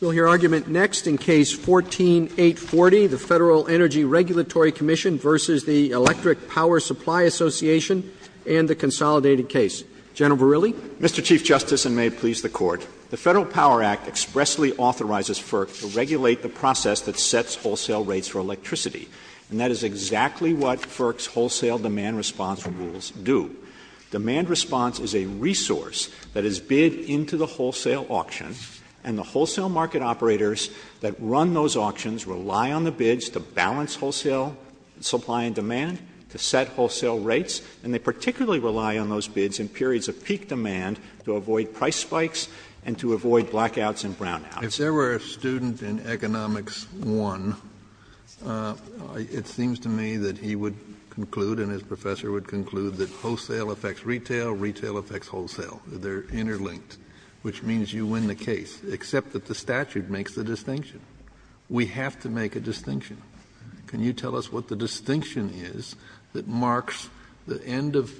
We'll hear argument next in Case 14-840, the Federal Energy Regulatory Commission v. the Electric Power Supply Association and the Consolidated Case. General Verrilli? Mr. Chief Justice, and may it please the Court, the Federal Power Act expressly authorizes FERC to regulate the process that sets wholesale rates for electricity, and that is exactly what FERC's Wholesale Demand Response Rules do. Demand response is a resource that is bid into the wholesale auction, and the wholesale market operators that run those auctions rely on the bids to balance wholesale supply and demand, to set wholesale rates, and they particularly rely on those bids in periods of peak demand to avoid price spikes and to avoid blackouts and brownouts. Kennedy, if there were a student in Economics I, it seems to me that he would conclude and his professor would conclude that wholesale affects retail, retail affects wholesale. They are interlinked, which means you win the case, except that the statute makes the distinction. We have to make a distinction. Can you tell us what the distinction is that marks the end of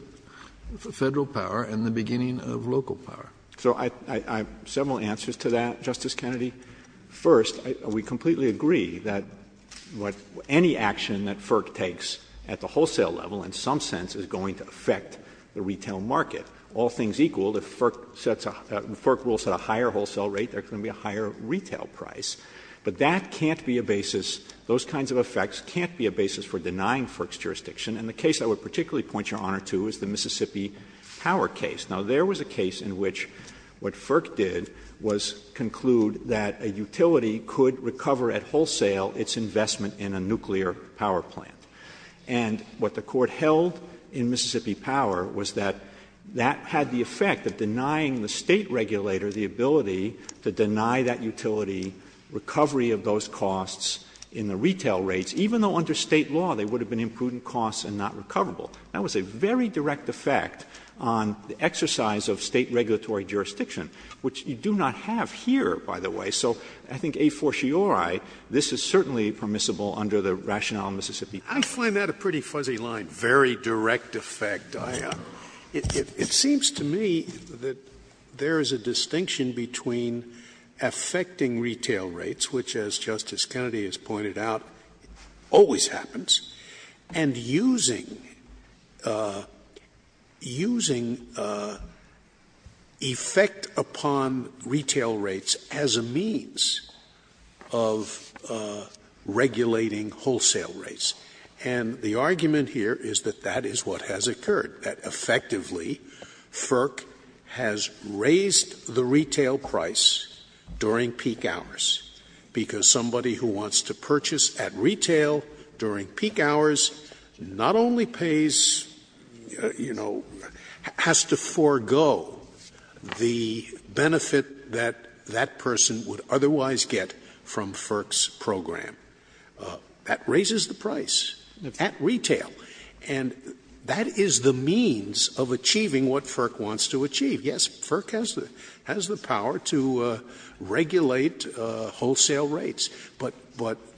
Federal power and the beginning of local power? Verrilli, So I have several answers to that, Justice Kennedy. First, we completely agree that any action that FERC takes at the wholesale level in some sense is going to affect the retail market. All things equal, if FERC rules set a higher wholesale rate, there is going to be a higher retail price, but that can't be a basis, those kinds of effects can't be a basis for denying FERC's jurisdiction. And the case I would particularly point Your Honor to is the Mississippi Power case. Now, there was a case in which what FERC did was conclude that a utility could recover at wholesale its investment in a nuclear power plant. And what the Court held in Mississippi Power was that that had the effect of denying the State regulator the ability to deny that utility recovery of those costs in the retail rates, even though under State law they would have been imprudent costs and not recoverable. That was a very direct effect on the exercise of State regulatory jurisdiction, which you do not have here, by the way. So I think a fortiori, this is certainly permissible under the rationale in Mississippi Power. Scalia. I find that a pretty fuzzy line, very direct effect. It seems to me that there is a distinction between affecting retail rates, which as Justice Kennedy has pointed out, always happens, and using effect upon retail rates as a means of regulating wholesale rates. And the argument here is that that is what has occurred, that effectively FERC has to forego the benefit that that person would otherwise get from FERC's program. That raises the price at retail. And that is the means of achieving what FERC wants to achieve. Yes, FERC has the power to regulate wholesale rates. But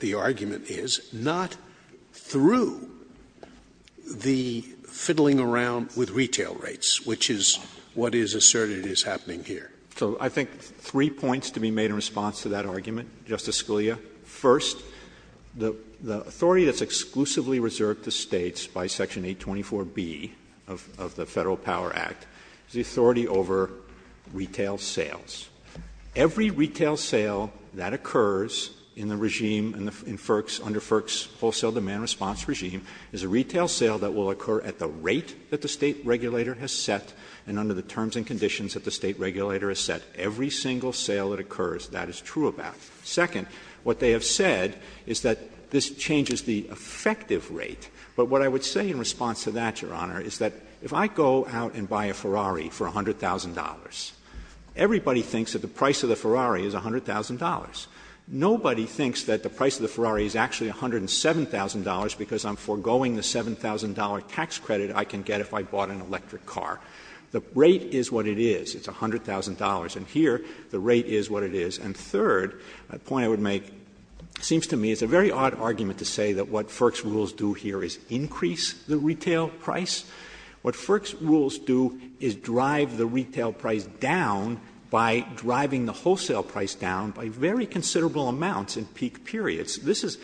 the argument is not through the fiddling around with retail rates, which is what is asserted is happening here. So I think three points to be made in response to that argument, Justice Scalia. First, the authority that's exclusively reserved to States by section 824B of the Federal Power Act is the authority over retail sales. Every retail sale that occurs in the regime, in FERC's, under FERC's wholesale demand response regime, is a retail sale that will occur at the rate that the State regulator has set and under the terms and conditions that the State regulator has set. Every single sale that occurs, that is true of that. Second, what they have said is that this changes the effective rate. But what I would say in response to that, Your Honor, is that if I go out and buy a Ferrari for $100,000, everybody thinks that the price of the Ferrari is $100,000. Nobody thinks that the price of the Ferrari is actually $107,000 because I'm foregoing the $7,000 tax credit I can get if I bought an electric car. The rate is what it is. It's $100,000. And here the rate is what it is. And third, a point I would make, it seems to me it's a very odd argument to say that what FERC's rules do here is increase the retail price. What FERC's rules do is drive the retail price down by driving the wholesale price down by very considerable amounts in peak periods. This is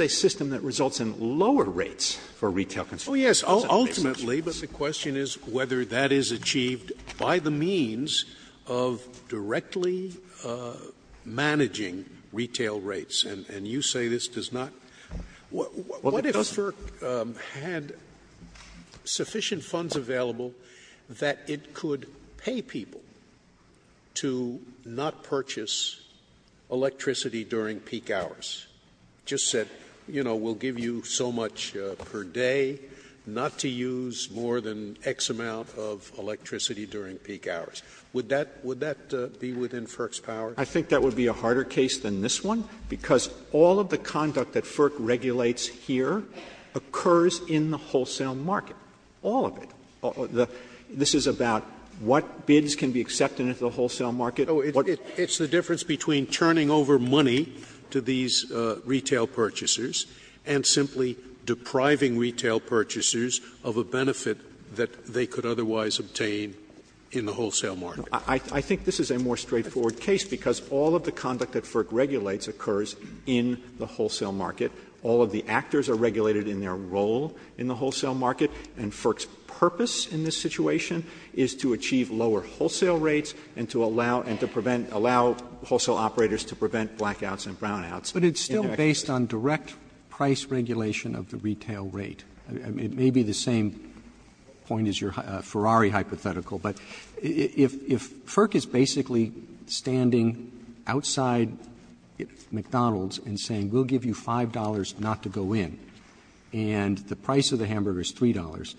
a system that results in lower rates for retail consumers. Scalia. Oh, yes, ultimately, but the question is whether that is achieved by the means of directly managing retail rates. And you say this does not. What if FERC had sufficient funds available that it could pay people to not purchase electricity during peak hours, just said, you know, we'll give you so much per day, not to use more than X amount of electricity during peak hours? Would that be within FERC's power? Verrilli, I think that would be a harder case than this one, because all of the conduct that FERC regulates here occurs in the wholesale market, all of it. This is about what bids can be accepted into the wholesale market. Scalia. Oh, it's the difference between turning over money to these retail purchasers and simply depriving retail purchasers of a benefit that they could otherwise obtain in the wholesale market. Verrilli, I think this is a more straightforward case, because all of the conduct that FERC regulates occurs in the wholesale market. All of the actors are regulated in their role in the wholesale market, and FERC's purpose in this situation is to achieve lower wholesale rates and to allow, and to prevent, allow wholesale operators to prevent blackouts and brownouts. Roberts, but it's still based on direct price regulation of the retail rate. It may be the same point as your Ferrari hypothetical, but if FERC is basically standing outside McDonald's and saying, we'll give you $5 not to go in, and the price of the hamburger is $3,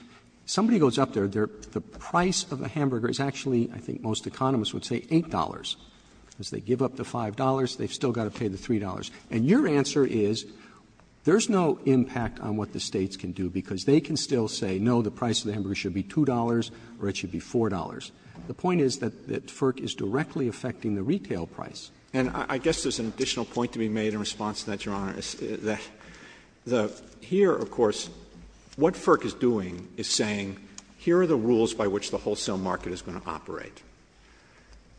somebody goes up there, the price of a hamburger is actually, I think most economists would say, $8. As they give up the $5, they've still got to pay the $3. And your answer is, there's no impact on what the States can do, because they can still say, no, the price of the hamburger should be $2 or it should be $4. The point is that FERC is directly affecting the retail price. Verrilli, and I guess there's an additional point to be made in response to that, Your Honor. Here, of course, what FERC is doing is saying, here are the rules by which the wholesale market is going to operate,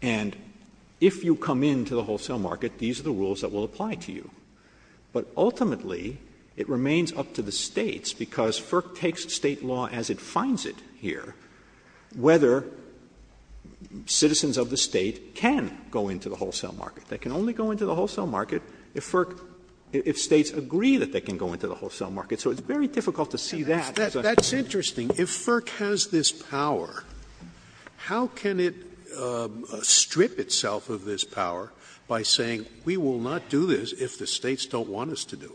and if you come into the wholesale market, these are the rules that are going to apply to you, but ultimately, it remains up to the States, because FERC takes State law as it finds it here, whether citizens of the State can go into the wholesale market. They can only go into the wholesale market if FERC, if States agree that they can go into the wholesale market. So it's very difficult to see that as a problem. Scalia. That's interesting. If FERC has this power, how can it strip itself of this power by saying, we will not do this if the States don't want us to do it?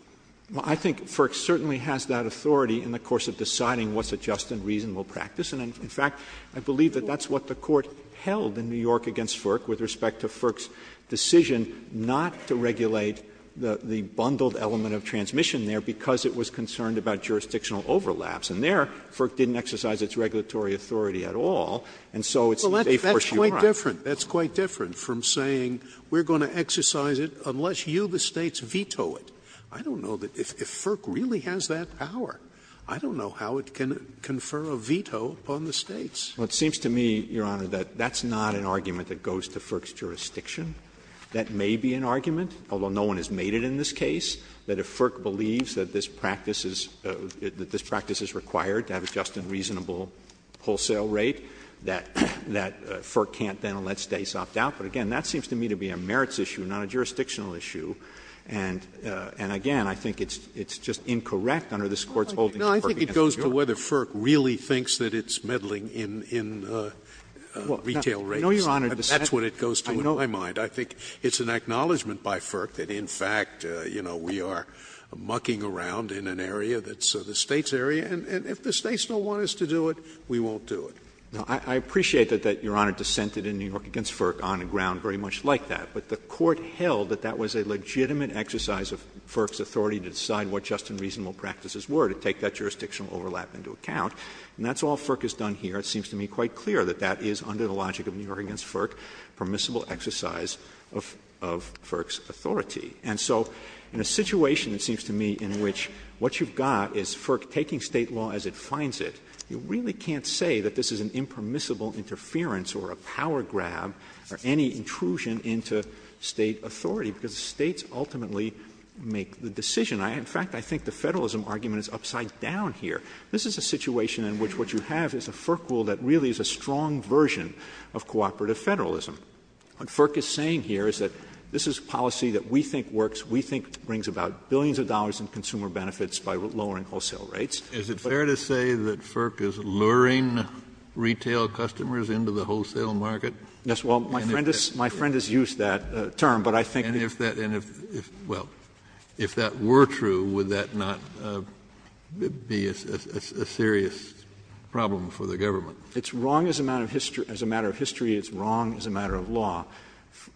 Verrilli, I think FERC certainly has that authority in the course of deciding what's a just and reasonable practice. And in fact, I believe that that's what the Court held in New York against FERC with respect to FERC's decision not to regulate the bundled element of transmission there, because it was concerned about jurisdictional overlaps. And there, FERC didn't exercise its regulatory authority at all, and so it's a safe course you are on. That's quite different from saying we are going to exercise it unless you, the States, veto it. I don't know if FERC really has that power. I don't know how it can confer a veto upon the States. Verrilli, It seems to me, Your Honor, that that's not an argument that goes to FERC's jurisdiction. That may be an argument, although no one has made it in this case, that if FERC believes that this practice is required to have a just and reasonable wholesale rate, that FERC can't then let States opt out. But again, that seems to me to be a merits issue, not a jurisdictional issue. And again, I think it's just incorrect under this Court's holding that FERC can't do that. Scalia No, I think it goes to whether FERC really thinks that it's meddling in retail rates. Verrilli, I know, Your Honor, but that's what it goes to in my mind. I think it's an acknowledgment by FERC that, in fact, you know, we are mucking around in an area that's the States' area, and if the States don't want us to do it, we won't do it. Verrilli, I appreciate that Your Honor dissented in New York v. FERC on a ground very much like that. But the Court held that that was a legitimate exercise of FERC's authority to decide what just and reasonable practices were, to take that jurisdictional overlap into account. And that's all FERC has done here. It seems to me quite clear that that is, under the logic of New York v. FERC, permissible exercise of FERC's authority. And so in a situation, it seems to me, in which what you've got is FERC taking State law as it finds it, you really can't say that this is an impermissible interference or a power grab or any intrusion into State authority, because the States ultimately make the decision. In fact, I think the Federalism argument is upside down here. This is a situation in which what you have is a FERC rule that really is a strong version of cooperative Federalism. What FERC is saying here is that this is policy that we think works, we think brings about billions of dollars in consumer benefits by lowering wholesale rates. Is it fair to say that FERC is luring retail customers into the wholesale market? Yes. Well, my friend has used that term, but I think that— And if that — well, if that were true, would that not be a serious problem for the government? It's wrong as a matter of history, it's wrong as a matter of law.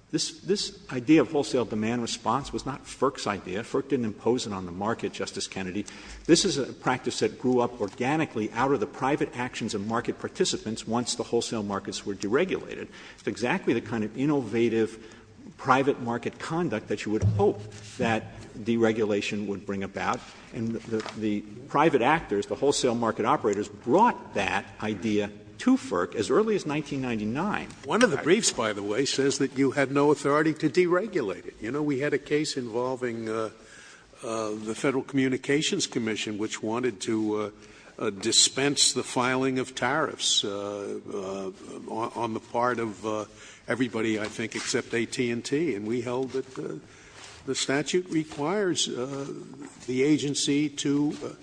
This idea of wholesale demand response was not FERC's idea. FERC didn't impose it on the market, Justice Kennedy. This is a practice that grew up organically out of the private actions of market participants once the wholesale markets were deregulated. It's exactly the kind of innovative private market conduct that you would hope that deregulation would bring about. And the private actors, the wholesale market operators, brought that idea to FERC as early as 1999. One of the briefs, by the way, says that you had no authority to deregulate it. You know, we had a case involving the Federal Communications Commission, which wanted to dispense the filing of tariffs on the part of everybody, I think, except AT&T. And we held that the statute requires the agency to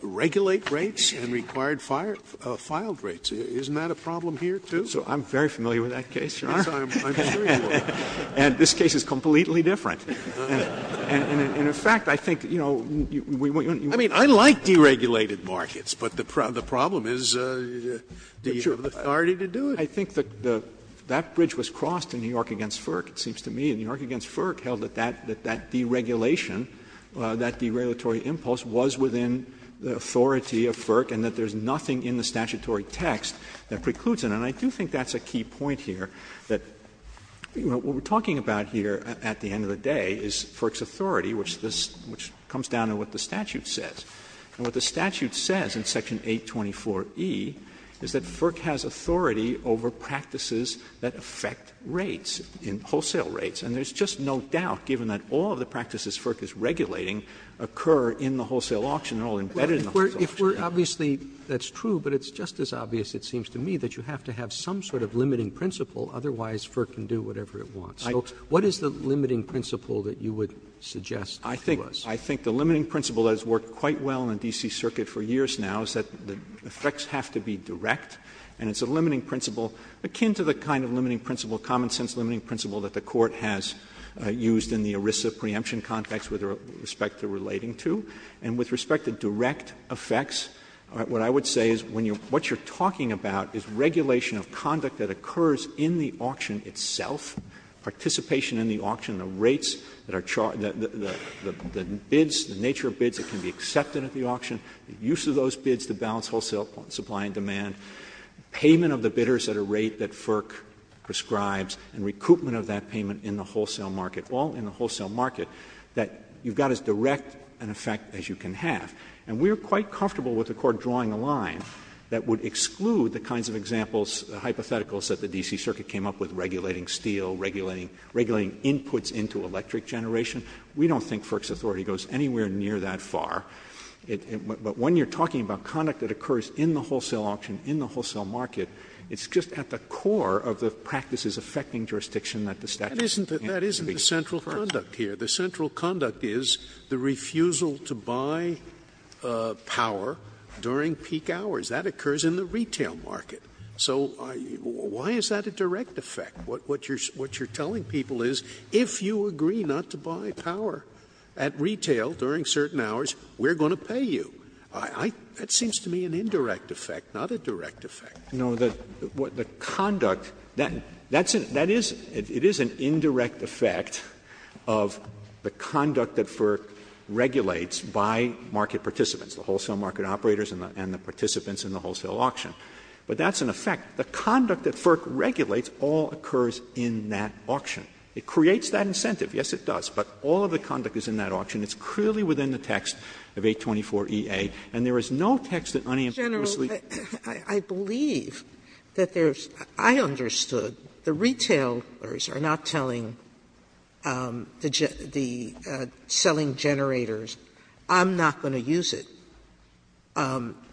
regulate rates and require filed rates. Isn't that a problem here, too? So I'm very familiar with that case, Your Honor. Yes, I'm sure you are. And this case is completely different. And in fact, I think, you know, we wouldn't want to do that. I mean, I like deregulated markets, but the problem is, do you have the authority to do it? I think that that bridge was crossed in New York v. FERC, it seems to me. And New York v. FERC held that that deregulation, that deregulatory impulse was within the authority of FERC and that there's nothing in the statutory text that precludes it. And I do think that's a key point here, that, you know, what we're talking about here at the end of the day is FERC's authority, which comes down to what the statute says. And what the statute says in Section 824e is that FERC has authority over practices that affect rates, wholesale rates. And there's just no doubt, given that all of the practices FERC is regulating If we're obviously, that's true, but it's just as obvious, it seems to me, that you have to have some sort of limiting principle, otherwise FERC can do whatever it wants. So what is the limiting principle that you would suggest to us? Verrilli, I think the limiting principle that has worked quite well in the D.C. Circuit for years now is that the effects have to be direct, and it's a limiting principle akin to the kind of limiting principle, common-sense limiting principle that the Court has used in the ERISA preemption context with respect to relating to. And with respect to direct effects, what I would say is when you're — what you're talking about is regulation of conduct that occurs in the auction itself, participation in the auction, the rates that are charged, the bids, the nature of bids that can be accepted at the auction, the use of those bids to balance wholesale supply and demand, payment of the bidders at a rate that FERC prescribes, and recoupment of that payment in the wholesale market, all in the wholesale market, that you've got as direct an effect as you can have. And we're quite comfortable with the Court drawing a line that would exclude the kinds of examples, hypotheticals, that the D.C. Circuit came up with, regulating steel, regulating inputs into electric generation. We don't think FERC's authority goes anywhere near that far. But when you're talking about conduct that occurs in the wholesale auction, in the wholesale market, it's just at the core of the practices affecting jurisdiction that the statute says. That isn't the central conduct here. The central conduct is the refusal to buy power during peak hours. That occurs in the retail market. So why is that a direct effect? What you're telling people is if you agree not to buy power at retail during certain hours, we're going to pay you. That seems to me an indirect effect, not a direct effect. Verrilli, No, the conduct, that's an, that is, it is an indirect effect of the conduct that FERC regulates by market participants, the wholesale market operators and the participants in the wholesale auction. But that's an effect. The conduct that FERC regulates all occurs in that auction. It creates that incentive, yes it does, but all of the conduct is in that auction. It's clearly within the text of 824 E.A., and there is no text that unambiguously Mr. General, I believe that there's, I understood the retailers are not telling the, the selling generators, I'm not going to use it.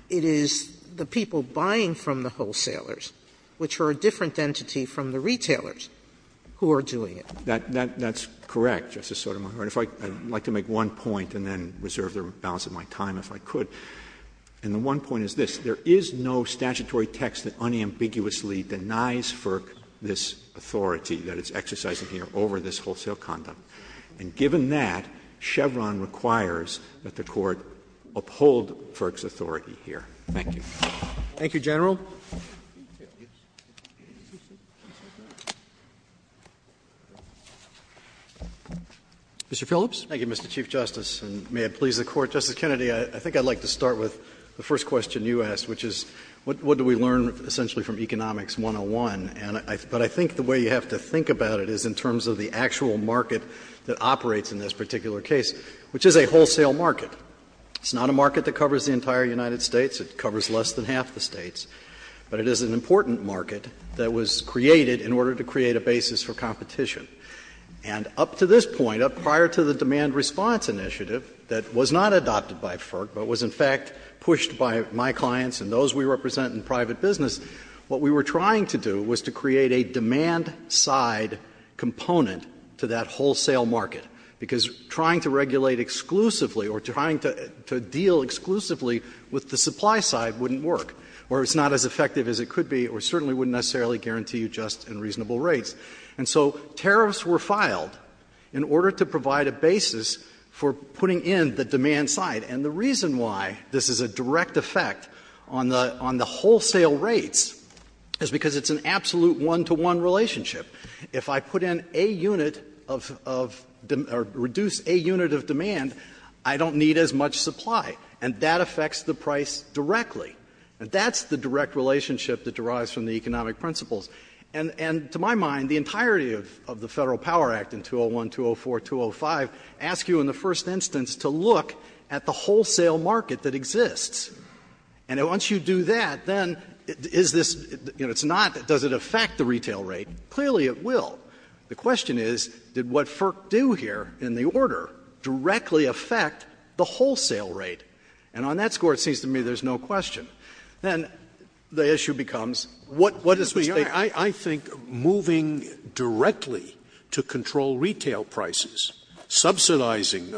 It is the people buying from the wholesalers, which are a different entity from the retailers, who are doing it. That, that's correct, Justice Sotomayor. If I, I'd like to make one point and then reserve the balance of my time if I could. And the one point is this, there is no statutory text that unambiguously denies FERC this authority that it's exercising here over this wholesale conduct. And given that, Chevron requires that the Court uphold FERC's authority here. Thank you. Roberts. Thank you, General. Mr. Phillips. Thank you, Mr. Chief Justice, and may it please the Court. Justice Kennedy, I think I'd like to start with the first question you asked, which is what do we learn essentially from Economics 101? And I, but I think the way you have to think about it is in terms of the actual market that operates in this particular case, which is a wholesale market. It's not a market that covers the entire United States. It covers less than half the States. But it is an important market that was created in order to create a basis for competition. And up to this point, prior to the demand response initiative that was not adopted by FERC, but was in fact pushed by my clients and those we represent in private business, what we were trying to do was to create a demand side component to that wholesale market, because trying to regulate exclusively or trying to deal exclusively with the supply side wouldn't work, or it's not as effective as it could be, or certainly wouldn't necessarily guarantee you just and reasonable rates. And so tariffs were filed in order to provide a basis for putting in the demand side. And the reason why this is a direct effect on the wholesale rates is because it's an absolute one-to-one relationship. If I put in a unit of, or reduce a unit of demand, I don't need as much supply, and that affects the price directly. That's the direct relationship that derives from the economic principles. And to my mind, the entirety of the Federal Power Act in 201, 204, 205, ask you in the first instance to look at the wholesale market that exists. And once you do that, then is this, you know, it's not, does it affect the retail rate? Clearly, it will. The question is, did what FERC do here in the order directly affect the wholesale rate? And on that score, it seems to me there's no question. Then the issue becomes what is the State's position? I think moving directly to control retail prices, subsidizing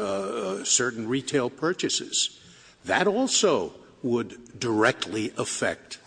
certain retail purchases, that also would directly affect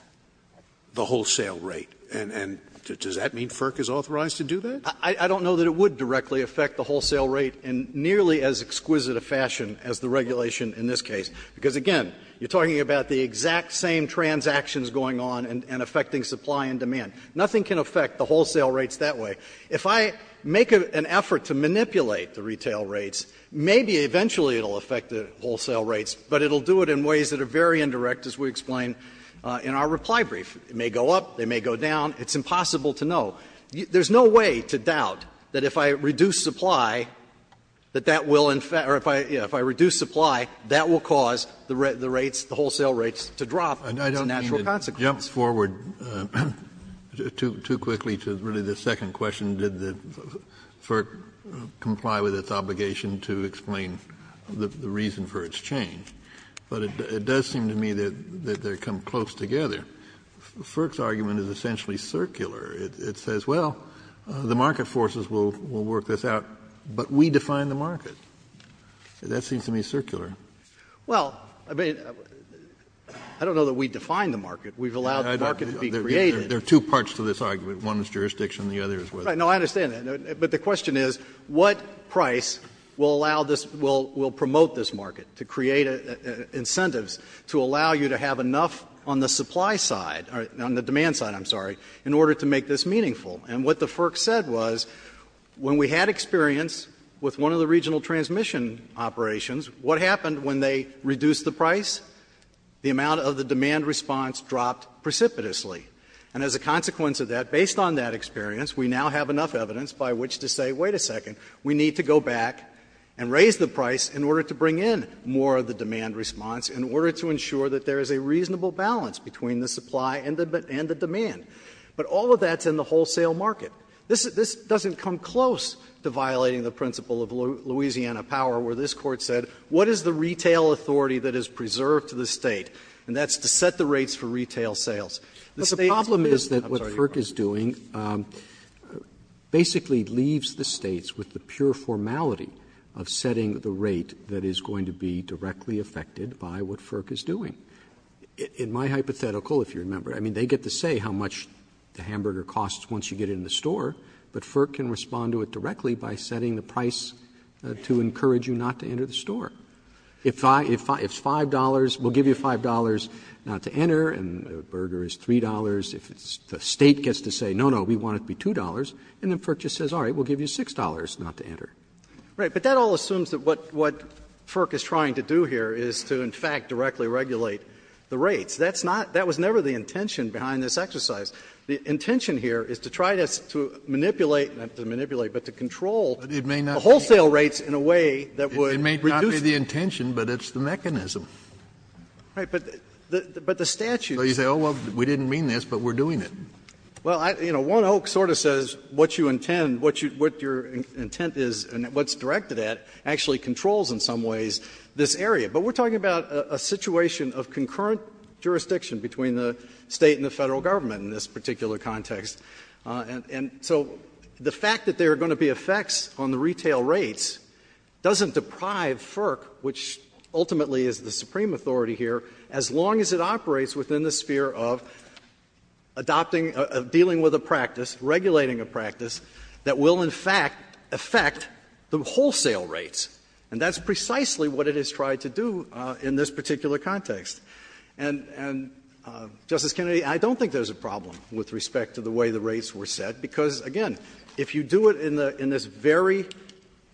the wholesale rate. And does that mean FERC is authorized to do that? I don't know that it would directly affect the wholesale rate in nearly as exquisite a fashion as the regulation in this case. Because, again, you're talking about the exact same transactions going on and affecting supply and demand. Nothing can affect the wholesale rates that way. If I make an effort to manipulate the retail rates, maybe eventually it will affect the wholesale rates, but it will do it in ways that are very indirect, as we explain in our reply brief. It may go up, it may go down. It's impossible to know. There's no way to doubt that if I reduce supply, that that will in fact or if I reduce supply, that will cause the rates, the wholesale rates to drop and that's a natural consequence. Kennedy, it jumps forward too quickly to really the second question, did the FERC comply with its obligation to explain the reason for its change? But it does seem to me that they come close together. FERC's argument is essentially circular. It says, well, the market forces will work this out, but we define the market. That seems to me circular. Well, I mean, I don't know that we define the market. We've allowed the market to be created. Kennedy, there are two parts to this argument. One is jurisdiction and the other is whether. No, I understand that, but the question is, what price will allow this, will promote this market to create incentives to allow you to have enough on the supply side or on the demand side, I'm sorry, in order to make this meaningful? And what the FERC said was when we had experience with one of the regional transmission operations, what happened when they reduced the price? The amount of the demand response dropped precipitously. And as a consequence of that, based on that experience, we now have enough evidence by which to say, wait a second, we need to go back and raise the price in order to bring in more of the demand response in order to ensure that there is a reasonable balance between the supply and the demand. But all of that's in the wholesale market. This doesn't come close to violating the principle of Louisiana power where this is a retail authority that is preserved to the State, and that's to set the rates for retail sales. Roberts, I'm sorry, you're wrong. Roberts, The problem is that what FERC is doing basically leaves the States with the pure formality of setting the rate that is going to be directly affected by what FERC is doing. In my hypothetical, if you remember, I mean, they get to say how much the hamburger costs once you get it in the store, but FERC can respond to it directly by setting the price to encourage you not to enter the store. If it's $5, we'll give you $5 not to enter, and a burger is $3. If the State gets to say, no, no, we want it to be $2, and then FERC just says, all right, we'll give you $6 not to enter. Phillips. Right. But that all assumes that what FERC is trying to do here is to, in fact, directly regulate the rates. That's not — that was never the intention behind this exercise. The intention here is to try to manipulate, not to manipulate, but to control wholesale rates in a way that would reduce it. It may not be the intention, but it's the mechanism. Right. But the statute. So you say, oh, well, we didn't mean this, but we're doing it. Well, you know, one oak sort of says what you intend, what your intent is and what's directed at actually controls in some ways this area. But we're talking about a situation of concurrent jurisdiction between the State and the Federal Government in this particular context. And so the fact that there are going to be effects on the retail rates doesn't deprive FERC, which ultimately is the supreme authority here, as long as it operates within the sphere of adopting, of dealing with a practice, regulating a practice that will, in fact, affect the wholesale rates. And that's precisely what it has tried to do in this particular context. And, Justice Kennedy, I don't think there's a problem with respect to the way the rates were set, because, again, if you do it in this very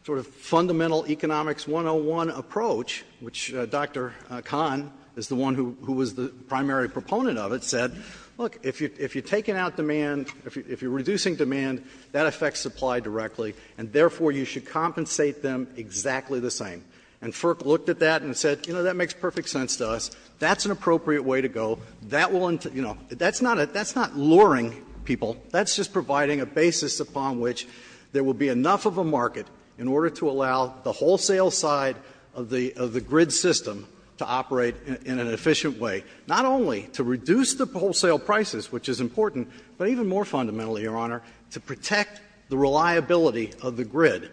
sort of fundamental economics 101 approach, which Dr. Kahn is the one who was the primary proponent of it, said, look, if you're taking out demand, if you're reducing demand, that affects supply directly, and therefore you should compensate them exactly the same. And FERC looked at that and said, you know, that makes perfect sense to us. That's an appropriate way to go. That will, you know, that's not luring people. That's just providing a basis upon which there will be enough of a market in order to allow the wholesale side of the grid system to operate in an efficient way, not only to reduce the wholesale prices, which is important, but even more fundamentally, Your Honor, to protect the reliability of the grid.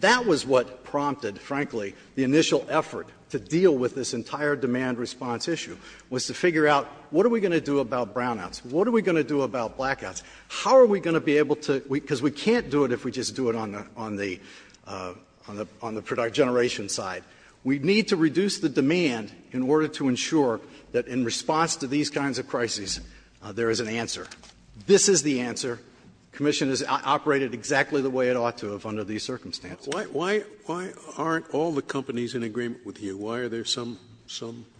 That was what prompted, frankly, the initial effort to deal with this entire demand response issue, was to figure out what are we going to do about brownouts? What are we going to do about blackouts? How are we going to be able to do it, because we can't do it if we just do it on the generation side. We need to reduce the demand in order to ensure that in response to these kinds of crises, there is an answer. This is the answer. The Commission has operated exactly the way it ought to have under these circumstances. Scalia. Why aren't all the companies in agreement with you? Why are there some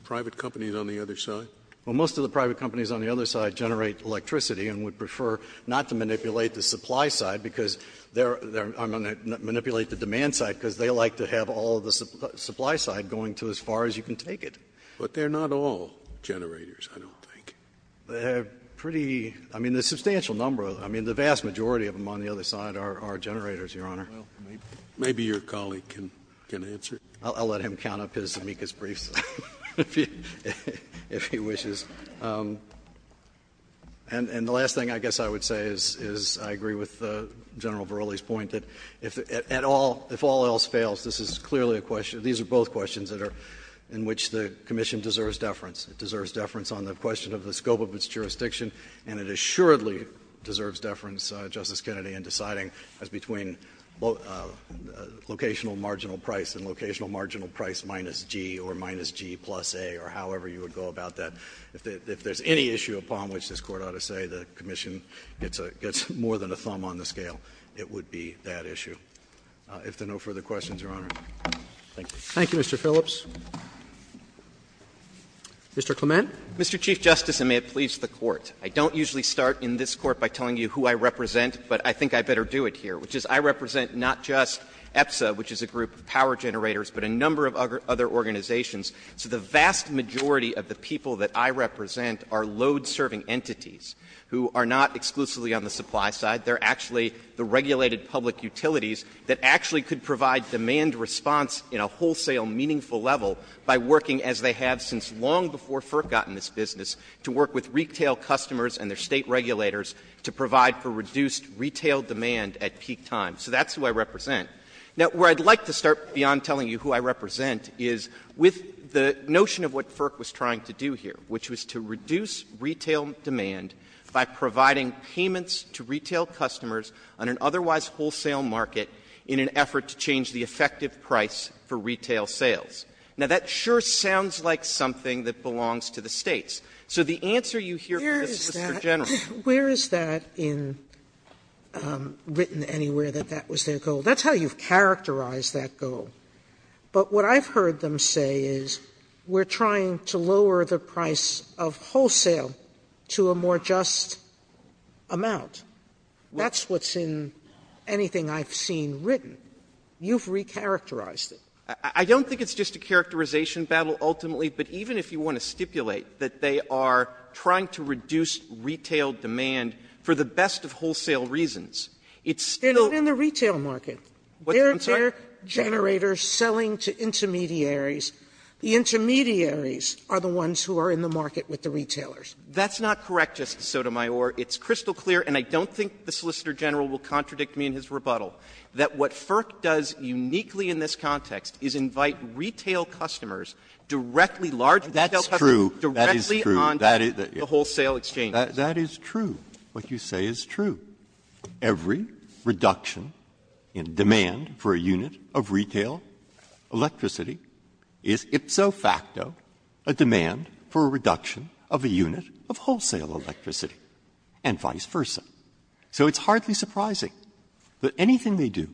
private companies on the other side? Well, most of the private companies on the other side generate electricity and would prefer not to manipulate the supply side, because they're going to manipulate the demand side, because they like to have all the supply side going to as far as you can take it. But they're not all generators, I don't think. They have pretty — I mean, a substantial number of them. I mean, the vast majority of them on the other side are generators, Your Honor. Well, maybe your colleague can answer. I'll let him count up his amicus briefs, if he wishes. And the last thing I guess I would say is I agree with General Verrilli's point that if at all — if all else fails, this is clearly a question — these are both questions that are — in which the Commission deserves deference. It deserves deference on the question of the scope of its jurisdiction, and it assuredly deserves deference, Justice Kennedy, in deciding as between locational marginal price and locational marginal price minus G or minus G plus A or however you would go about that. If there's any issue upon which this Court ought to say the Commission gets more than a thumb on the scale, it would be that issue. If there are no further questions, Your Honor. Thank you. Roberts. Thank you, Mr. Phillips. Mr. Clement. Mr. Chief Justice, and may it please the Court, I don't usually start in this Court by telling you who I represent, but I think I better do it here, which is I represent not just EPSA, which is a group of power generators, but a number of other organizations. So the vast majority of the people that I represent are load-serving entities who are not exclusively on the supply side. They're actually the regulated public utilities that actually could provide demand response in a wholesale meaningful level by working, as they have since long before FERC got in this business, to work with retail customers and their State regulators to provide for reduced retail demand at peak time. So that's who I represent. Now, where I'd like to start beyond telling you who I represent is with the notion of what FERC was trying to do here, which was to reduce retail demand by providing payments to retail customers on an otherwise wholesale market in an effort to change the effective price for retail sales. Now, that sure sounds like something that belongs to the States. So the answer you hear from the Solicitor General to that is that it's not a question of who I represent. Sotomayor, where is that in written anywhere that that was their goal? That's how you've characterized that goal. But what I've heard them say is we're trying to lower the price of wholesale to a more just amount. That's what's in anything I've seen written. You've recharacterized it. Clements. I don't think it's just a characterization battle ultimately, but even if you want to stipulate that they are trying to reduce retail demand for the best of wholesale reasons, it's still the same. Sotomayor, it's crystal clear, and I don't think the Solicitor General will contradict for the best of wholesale reasons. What FERC does uniquely in this context is invite retail customers directly large retail customers directly on the wholesale exchange. Breyer. That is true. What you say is true. Every reduction in demand for a unit of retail electricity is ipso facto a demand for a reduction of a unit of wholesale electricity, and vice versa. So it's hardly surprising that anything they do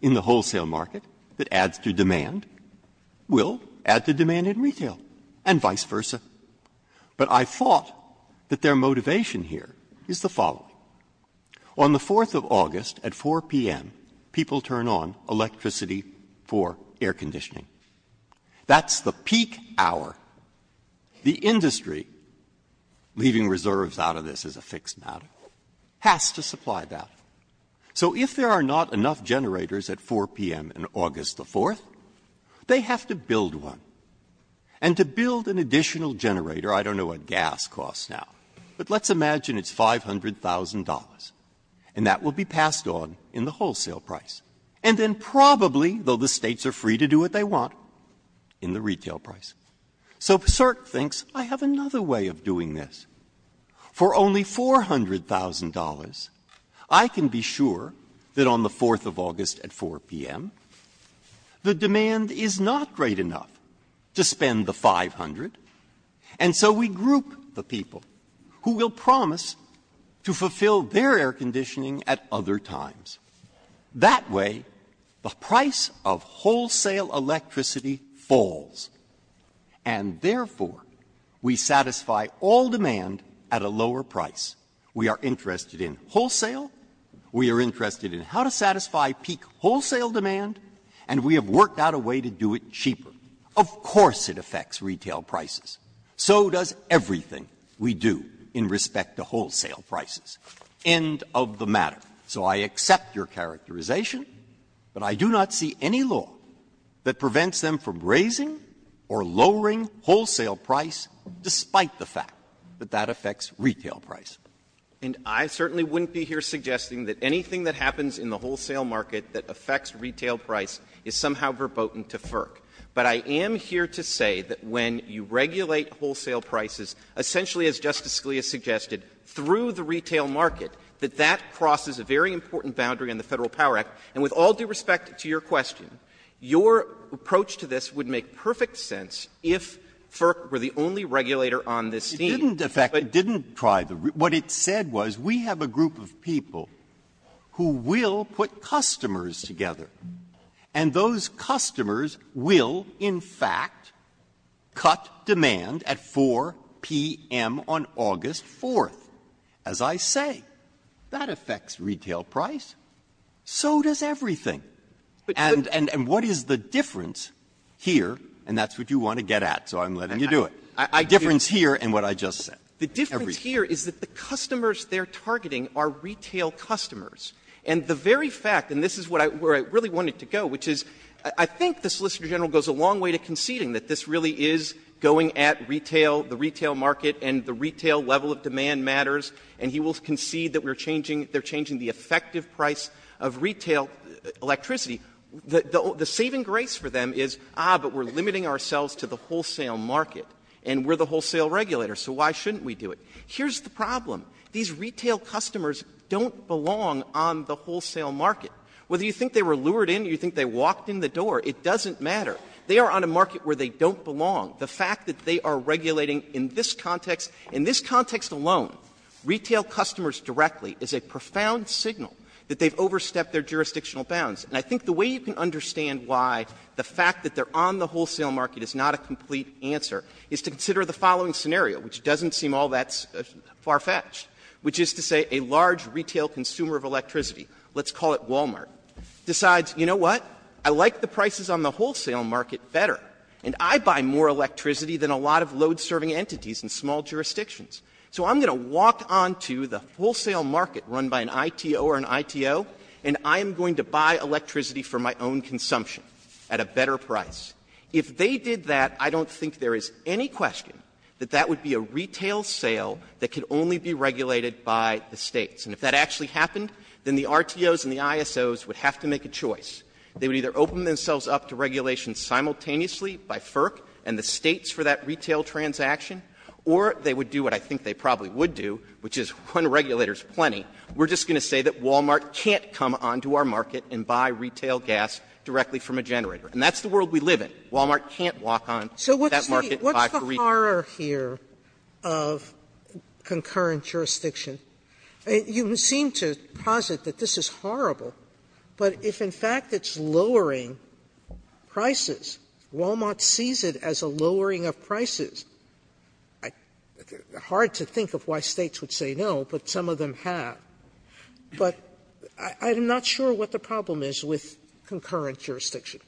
in the wholesale market that adds to demand will add to demand in retail and vice versa. But I thought that their motivation here is the following. On the 4th of August at 4 p.m., people turn on electricity for air conditioning. That's the peak hour. The industry, leaving reserves out of this as a fixed matter, is the peak hour. Has to supply that. So if there are not enough generators at 4 p.m. on August the 4th, they have to build one. And to build an additional generator, I don't know what gas costs now, but let's imagine it's $500,000, and that will be passed on in the wholesale price. And then probably, though the States are free to do what they want, in the retail price. So FERC thinks, I have another way of doing this. For only $400,000, I can be sure that on the 4th of August at 4 p.m., the demand is not great enough to spend the 500, and so we group the people who will promise to fulfill their air conditioning at other times. That way, the price of wholesale electricity falls, and therefore, we satisfy all demand at a lower price. We are interested in wholesale. We are interested in how to satisfy peak wholesale demand. And we have worked out a way to do it cheaper. Of course it affects retail prices. So does everything we do in respect to wholesale prices. End of the matter. So I accept your characterization, but I do not see any law that prevents them from doing that, the fact that that affects retail price. And I certainly wouldn't be here suggesting that anything that happens in the wholesale market that affects retail price is somehow verboten to FERC. But I am here to say that when you regulate wholesale prices, essentially, as Justice Scalia suggested, through the retail market, that that crosses a very important boundary on the Federal Power Act. And with all due respect to your question, your approach to this would make perfect sense if FERC were the only regulator on this theme. Breyer. It didn't affect the regulator. It didn't try the regulator. What it said was we have a group of people who will put customers together. And those customers will, in fact, cut demand at 4 p.m. on August 4th. As I say, that affects retail price. So does everything. And what is the difference here, and that's what you want to get at, so I'm letting you do it. The difference here and what I just said. The difference here is that the customers they're targeting are retail customers. And the very fact, and this is where I really wanted to go, which is I think the Solicitor General goes a long way to conceding that this really is going at retail, the retail market, and the retail level of demand matters, and he will concede that we're changing they're changing the effective price of retail electricity. The saving grace for them is, ah, but we're limiting ourselves to the wholesale market, and we're the wholesale regulator, so why shouldn't we do it? Here's the problem. These retail customers don't belong on the wholesale market. Whether you think they were lured in or you think they walked in the door, it doesn't matter. They are on a market where they don't belong. The fact that they are regulating in this context, in this context alone, retail customers directly is a profound signal that they've overstepped their jurisdictional bounds. And I think the way you can understand why the fact that they're on the wholesale market is not a complete answer is to consider the following scenario, which doesn't seem all that far-fetched, which is to say a large retail consumer of electricity, let's call it Walmart, decides, you know what, I like the prices on the wholesale market better, and I buy more electricity than a lot of load-serving entities in small jurisdictions. So I'm going to walk on to the wholesale market run by an ITO or an ITO, and I am going to buy electricity for my own consumption at a better price. If they did that, I don't think there is any question that that would be a retail sale that could only be regulated by the States. And if that actually happened, then the RTOs and the ISOs would have to make a choice. They would either open themselves up to regulation simultaneously by FERC and the States for that retail transaction, or they would do what I think they probably would do, which is run regulators plenty. We're just going to say that Walmart can't come onto our market and buy retail gas directly from a generator. And that's the world we live in. Walmart can't walk on that market and buy for retail. Sotomayor, So what's the horror here of concurrent jurisdiction? You seem to posit that this is horrible, but if in fact it's lowering prices, Walmart sees it as a lowering of prices. Hard to think of why States would say no, but some of them have. But I'm not sure what the problem is with concurrent jurisdiction.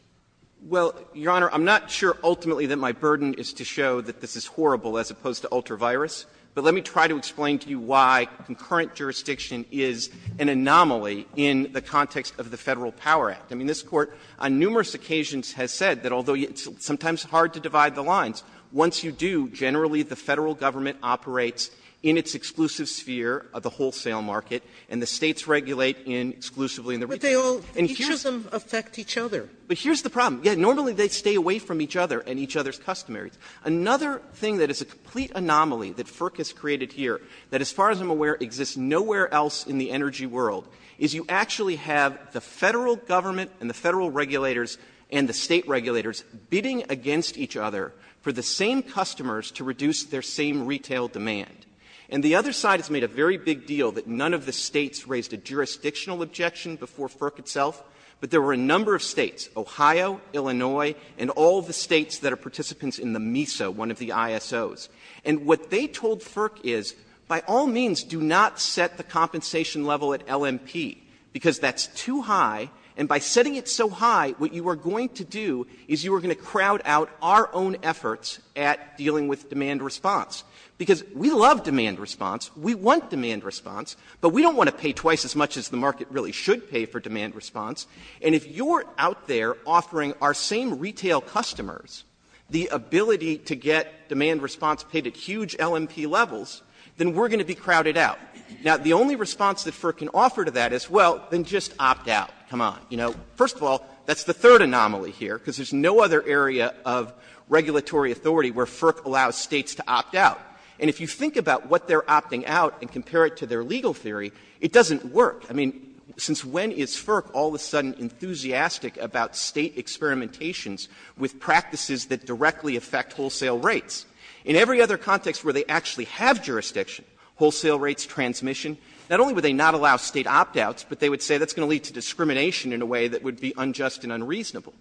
Clements, Your Honor, I'm not sure ultimately that my burden is to show that this is horrible as opposed to ultra-virus, but let me try to explain to you why concurrent jurisdiction is an anomaly in the context of the Federal Power Act. I mean, this Court on numerous occasions has said that although it's sometimes hard to divide the lines, once you do, generally the Federal Government operates in its exclusive sphere of the wholesale market, and the States regulate in exclusively in the retail. Sotomayor, But they all, each of them affect each other. Clements, But here's the problem. Yeah, normally they stay away from each other and each other's customaries. Another thing that is a complete anomaly that FERC has created here that as far as I'm aware exists nowhere else in the energy world, is you actually have the Federal Government and the Federal regulators and the State regulators bidding against each other for the same customers to reduce their same retail demand. And the other side has made a very big deal that none of the States raised a jurisdictional objection before FERC itself, but there were a number of States, Ohio, Illinois, and all of the States that are participants in the MISA, one of the ISOs. And what they told FERC is, by all means, do not set the compensation level at LMP, because that's too high, and by setting it so high, what you are going to do is you are going to crowd out our own efforts at dealing with demand response. Because we love demand response, we want demand response, but we don't want to pay twice as much as the market really should pay for demand response. And if you're out there offering our same retail customers the ability to get demand response paid at huge LMP levels, then we're going to be crowded out. Now, the only response that FERC can offer to that is, well, then just opt out. Come on. You know, first of all, that's the third anomaly here, because there's no other area of regulatory authority where FERC allows States to opt out. And if you think about what they're opting out and compare it to their legal theory, it doesn't work. I mean, since when is FERC all of a sudden enthusiastic about State experimentations with practices that directly affect wholesale rates? In every other context where they actually have jurisdiction, wholesale rates, transmission, not only would they not allow State opt-outs, but they would say that's going to lead to discrimination in a way that would be unjust and unreasonable.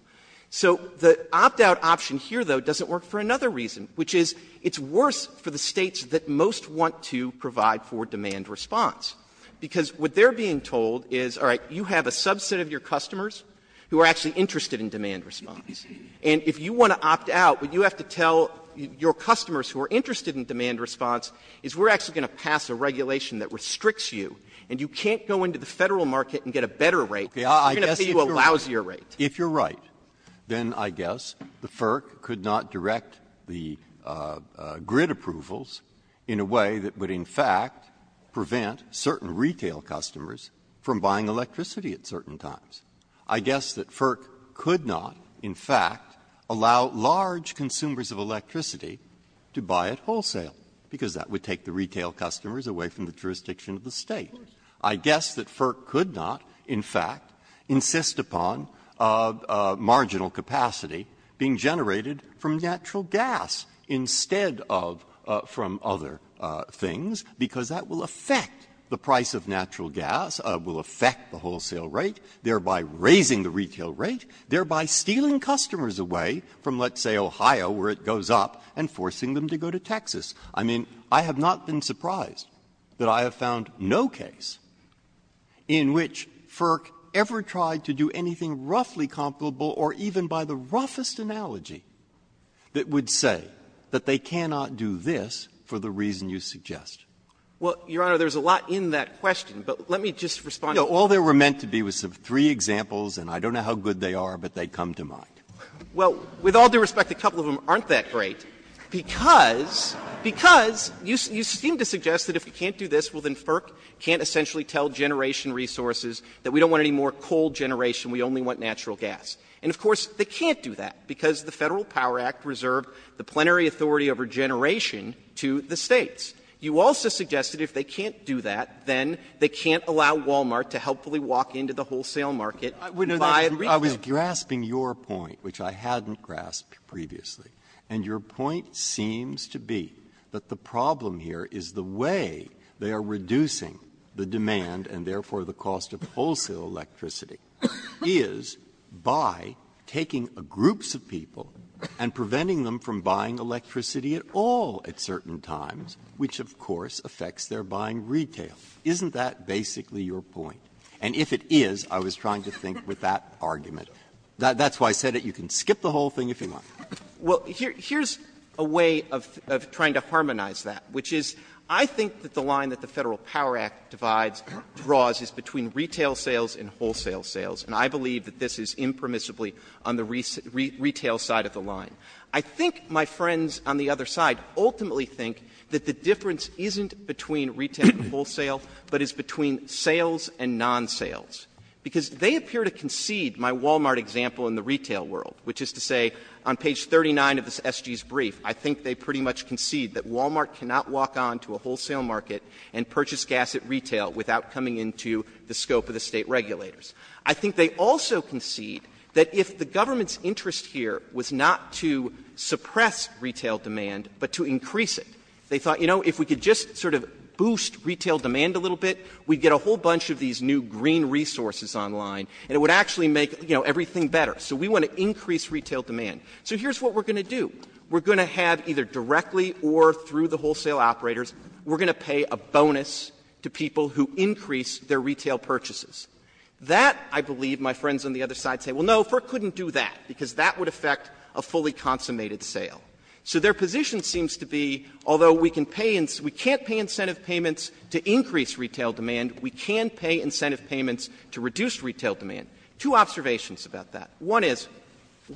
So the opt-out option here, though, doesn't work for another reason, which is it's worse for the States that most want to provide for demand response. Because what they're being told is, all right, you have a subset of your customers who are actually interested in demand response. And if you want to opt out, what you have to tell your customers who are interested in demand response is we're actually going to pass a regulation that restricts you, and you can't go into the Federal market and get a better rate. You're going to pay a lousier rate. Breyer. If you're right, then I guess the FERC could not direct the grid approvals in a way that would, in fact, prevent certain retail customers from buying electricity at certain times. I guess that FERC could not, in fact, allow large consumers of electricity to buy it wholesale, because that would take the retail customers away from the jurisdiction of the State. I guess that FERC could not, in fact, insist upon marginal capacity being generated from natural gas instead of from other things, because that will affect the price of natural gas, will affect the wholesale rate, thereby raising the retail rate, thereby stealing customers away from, let's say, Ohio, where it goes up, and forcing them to go to Texas. I mean, I have not been surprised that I have found no case in which FERC ever tried to do anything roughly comparable or even by the roughest analogy that would say that they cannot do this for the reason you suggest. Clements, Well, Your Honor, there's a lot in that question, but let me just respond. Breyer, All there were meant to be was three examples, and I don't know how good they are, but they come to mind. Clements, Well, with all due respect, a couple of them aren't that great, because you seem to suggest that if we can't do this, well, then FERC can't essentially tell generation resources that we don't want any more coal generation, we only want natural gas. And, of course, they can't do that, because the Federal Power Act reserved the plenary authority over generation to the States. You also suggested if they can't do that, then they can't allow Walmart to helpfully walk into the wholesale market and buy a refill. Breyer, I was grasping your point, which I hadn't grasped previously, and your point seems to be that the problem here is the way they are reducing the demand, and therefore the cost of wholesale electricity, is by taking groups of people and preventing them from buying electricity at all at certain times, which, of course, affects their buying retail. Isn't that basically your point? And if it is, I was trying to think with that argument. That's why I said that you can skip the whole thing if you want. Clements, Well, here's a way of trying to harmonize that, which is I think that the line that the Federal Power Act divides, draws, is between retail sales and wholesale sales, and I believe that this is impermissibly on the retail side of the line. I think my friends on the other side ultimately think that the difference isn't between retail and wholesale, but is between sales and non-sales, because they appear to concede my Walmart example in the retail world, which is to say, on page 39 of this SG's brief, I think they pretty much concede that Walmart cannot walk on to a wholesale market and purchase gas at retail without coming into the scope of the State regulators. I think they also concede that if the government's interest here was not to suppress retail demand, but to increase it, they thought, you know, if we could just sort of boost retail demand a little bit, we'd get a whole bunch of these new green resources online, and it would actually make, you know, everything better. So we want to increase retail demand. So here's what we're going to do. We're going to have either directly or through the wholesale operators, we're going to pay a bonus to people who increase their retail purchases. That, I believe, my friends on the other side say, well, no, FERC couldn't do that, because that would affect a fully consummated sale. So their position seems to be, although we can pay — we can't pay incentive payments to increase retail demand, we can pay incentive payments to reduce retail demand. Two observations about that. One is,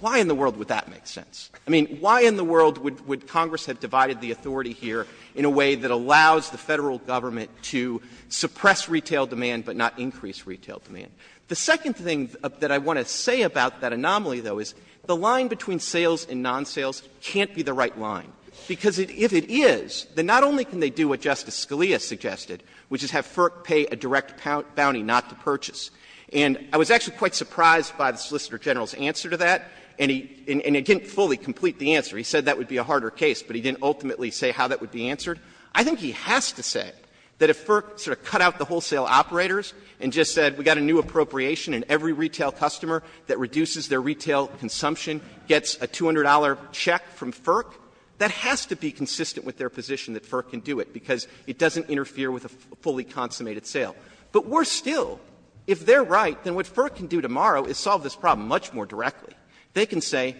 why in the world would that make sense? I mean, why in the world would Congress have divided the authority here in a way that allows the Federal Government to suppress retail demand, but not increase retail demand? The second thing that I want to say about that anomaly, though, is the line between sales and non-sales can't be the right line, because if it is, then not only can they do what Justice Scalia suggested, which is have FERC pay a direct bounty not to purchase. And I was actually quite surprised by the Solicitor General's answer to that, and he — and he didn't fully complete the answer. He said that would be a harder case, but he didn't ultimately say how that would be answered. I think he has to say that if FERC sort of cut out the wholesale operators and just said we've got a new appropriation and every retail customer that reduces their retail consumption gets a $200 check from FERC, that has to be consistent with their position that FERC can do it, because it doesn't interfere with a fully consummated sale. But worse still, if they're right, then what FERC can do tomorrow is solve this problem much more directly. They can say,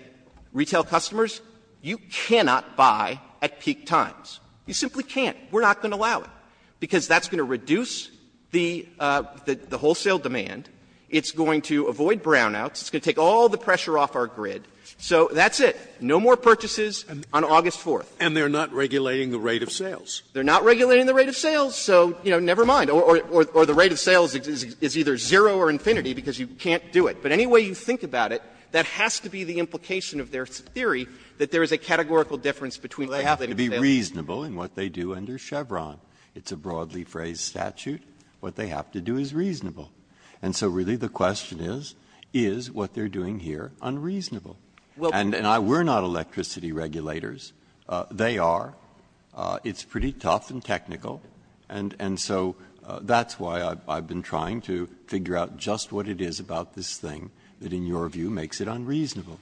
retail customers, you cannot buy at peak times. You simply can't. We're not going to allow it, because that's going to reduce the wholesale demand. It's going to avoid brownouts. It's going to take all the pressure off our grid. So that's it. No more purchases on August 4th. Scalia. And they're not regulating the rate of sales. Clement. They're not regulating the rate of sales, so, you know, never mind. Or the rate of sales is either zero or infinity because you can't do it. But any way you think about it, that has to be the implication of their theory that there is a categorical difference between the rate of sales and the rate of sales. Breyer. Well, the question is, is it reasonable in what they do under Chevron? It's a broadly phrased statute. What they have to do is reasonable. And so, really, the question is, is what they're doing here unreasonable? And we're not electricity regulators. They are. It's pretty tough and technical, and so that's why I've been trying to figure out just what it is about this thing that, in your view, makes it unreasonable. Clement.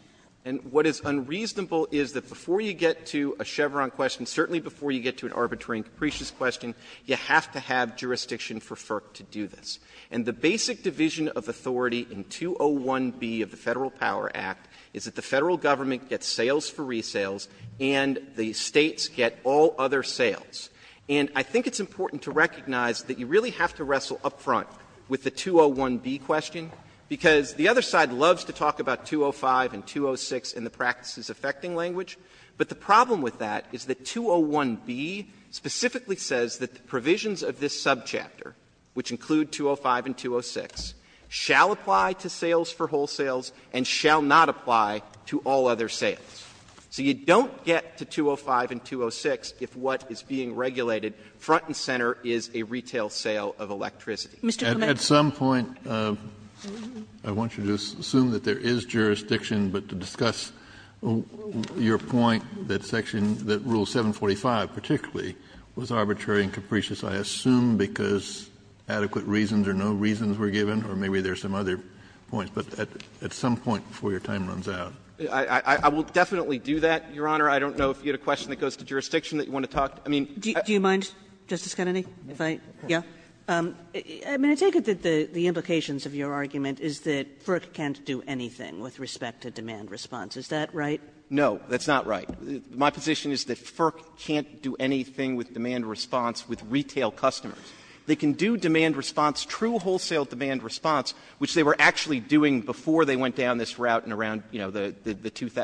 And what is unreasonable is that before you get to a Chevron question, certainly before you get to an arbitrary and capricious question, you have to have jurisdiction for FERC to do this. And the basic division of authority in 201b of the Federal Power Act is that the Federal Government gets sales for resales and the States get all other sales. And I think it's important to recognize that you really have to wrestle up front with the 201b question, because the other side loves to talk about 205 and 206 in the practices-affecting language, but the problem with that is that 201b specifically says that the provisions of this subchapter, which include 205 and 206, shall apply to sales for wholesales and shall not apply to all other sales. So you don't get to 205 and 206 if what is being regulated front and center is a retail sale of electricity. Mr. Clement. Kennedy. Kennedy. At some point, I want you to assume that there is jurisdiction, but to discuss your point that section that Rule 745 particularly was arbitrary and capricious, I assume because adequate reasons or no reasons were given, or maybe there are some other points, but at some point before your time runs out. I will definitely do that, Your Honor. I don't know if you had a question that goes to jurisdiction that you want to talk to. I mean, I don't know. Do you mind, Justice Kennedy, if I go? I mean, I take it that the implications of your argument is that FERC can't do anything with respect to demand response. Is that right? No, that's not right. My position is that FERC can't do anything with demand response with retail customers. They can do demand response, true wholesale demand response, which they were actually doing before they went down this route in around, you know, the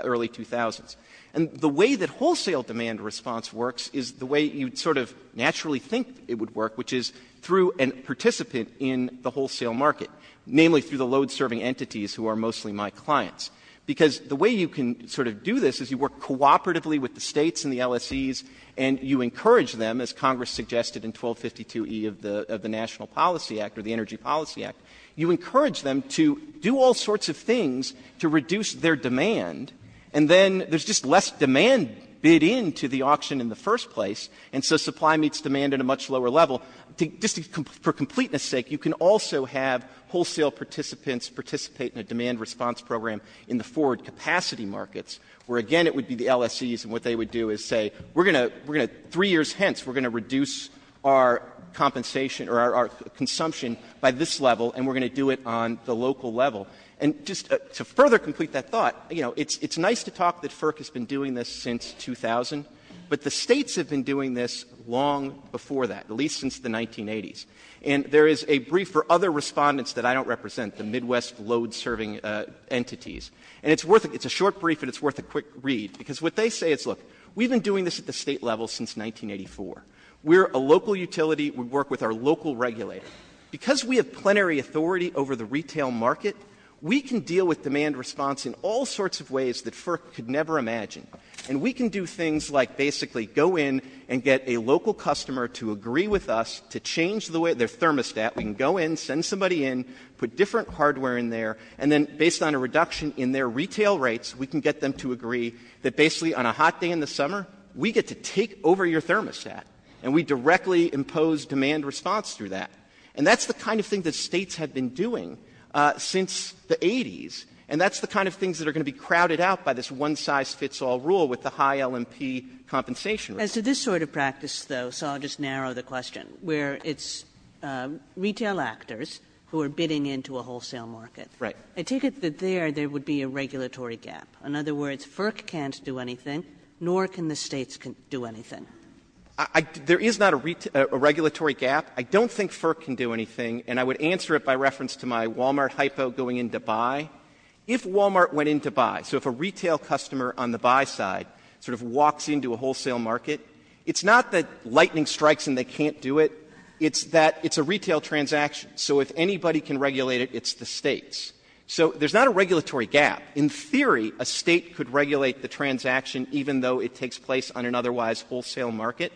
early 2000s. And the way that wholesale demand response works is the way you sort of naturally think it would work, which is through a participant in the wholesale market, namely through the load-serving entities who are mostly my clients, because the way you can sort of do this is you work cooperatively with the States and the LSEs, and you encourage them, as Congress suggested in 1252e of the National Policy Act or the Energy Policy Act, you encourage them to do all sorts of things to reduce their demand, and then there's just less demand bid in to the auction in the first place, and so supply meets demand in a much lower level. Just for completeness sake, you can also have wholesale participants participate in a demand response program in the forward capacity markets, where, again, it would be the LSEs, and what they would do is say, we're going to, three years hence, we're going to reduce our compensation or our consumption by this level, and we're going to do it on the local level. And just to further complete that thought, you know, it's nice to talk that FERC has been doing this since 2000, but the States have been doing this long before that, at least since the 1980s, and there is a brief for other Respondents that I don't represent, the Midwest load-serving entities, and it's worth it, it's a short brief, and it's worth a quick read, because what they say is, look, we've been doing this at the State level since 1984, we're a local utility, we work with our local regulator. Because we have plenary authority over the retail market, we can deal with demand response in all sorts of ways that FERC could never imagine. And we can do things like basically go in and get a local customer to agree with us to change their thermostat, we can go in, send somebody in, put different hardware in there, and then based on a reduction in their retail rates, we can get them to agree that basically on a hot day in the summer, we get to take over your thermostat, and we directly impose demand response through that. And that's the kind of thing that States have been doing since the 80s, and that's the kind of things that are going to be crowded out by this one-size-fits-all rule with the high L&P compensation rate. Kagan. As to this sort of practice, though, so I'll just narrow the question, where it's retail actors who are bidding into a wholesale market. Right. I take it that there, there would be a regulatory gap. In other words, FERC can't do anything, nor can the States do anything. I — there is not a regulatory gap. I don't think FERC can do anything, and I would answer it by reference to my Walmart hypo going into buy. If Walmart went into buy, so if a retail customer on the buy side sort of walks into a wholesale market, it's not that lightning strikes and they can't do it. It's that it's a retail transaction. So if anybody can regulate it, it's the States. So there's not a regulatory gap. In theory, a State could regulate the transaction even though it takes place on an otherwise wholesale market.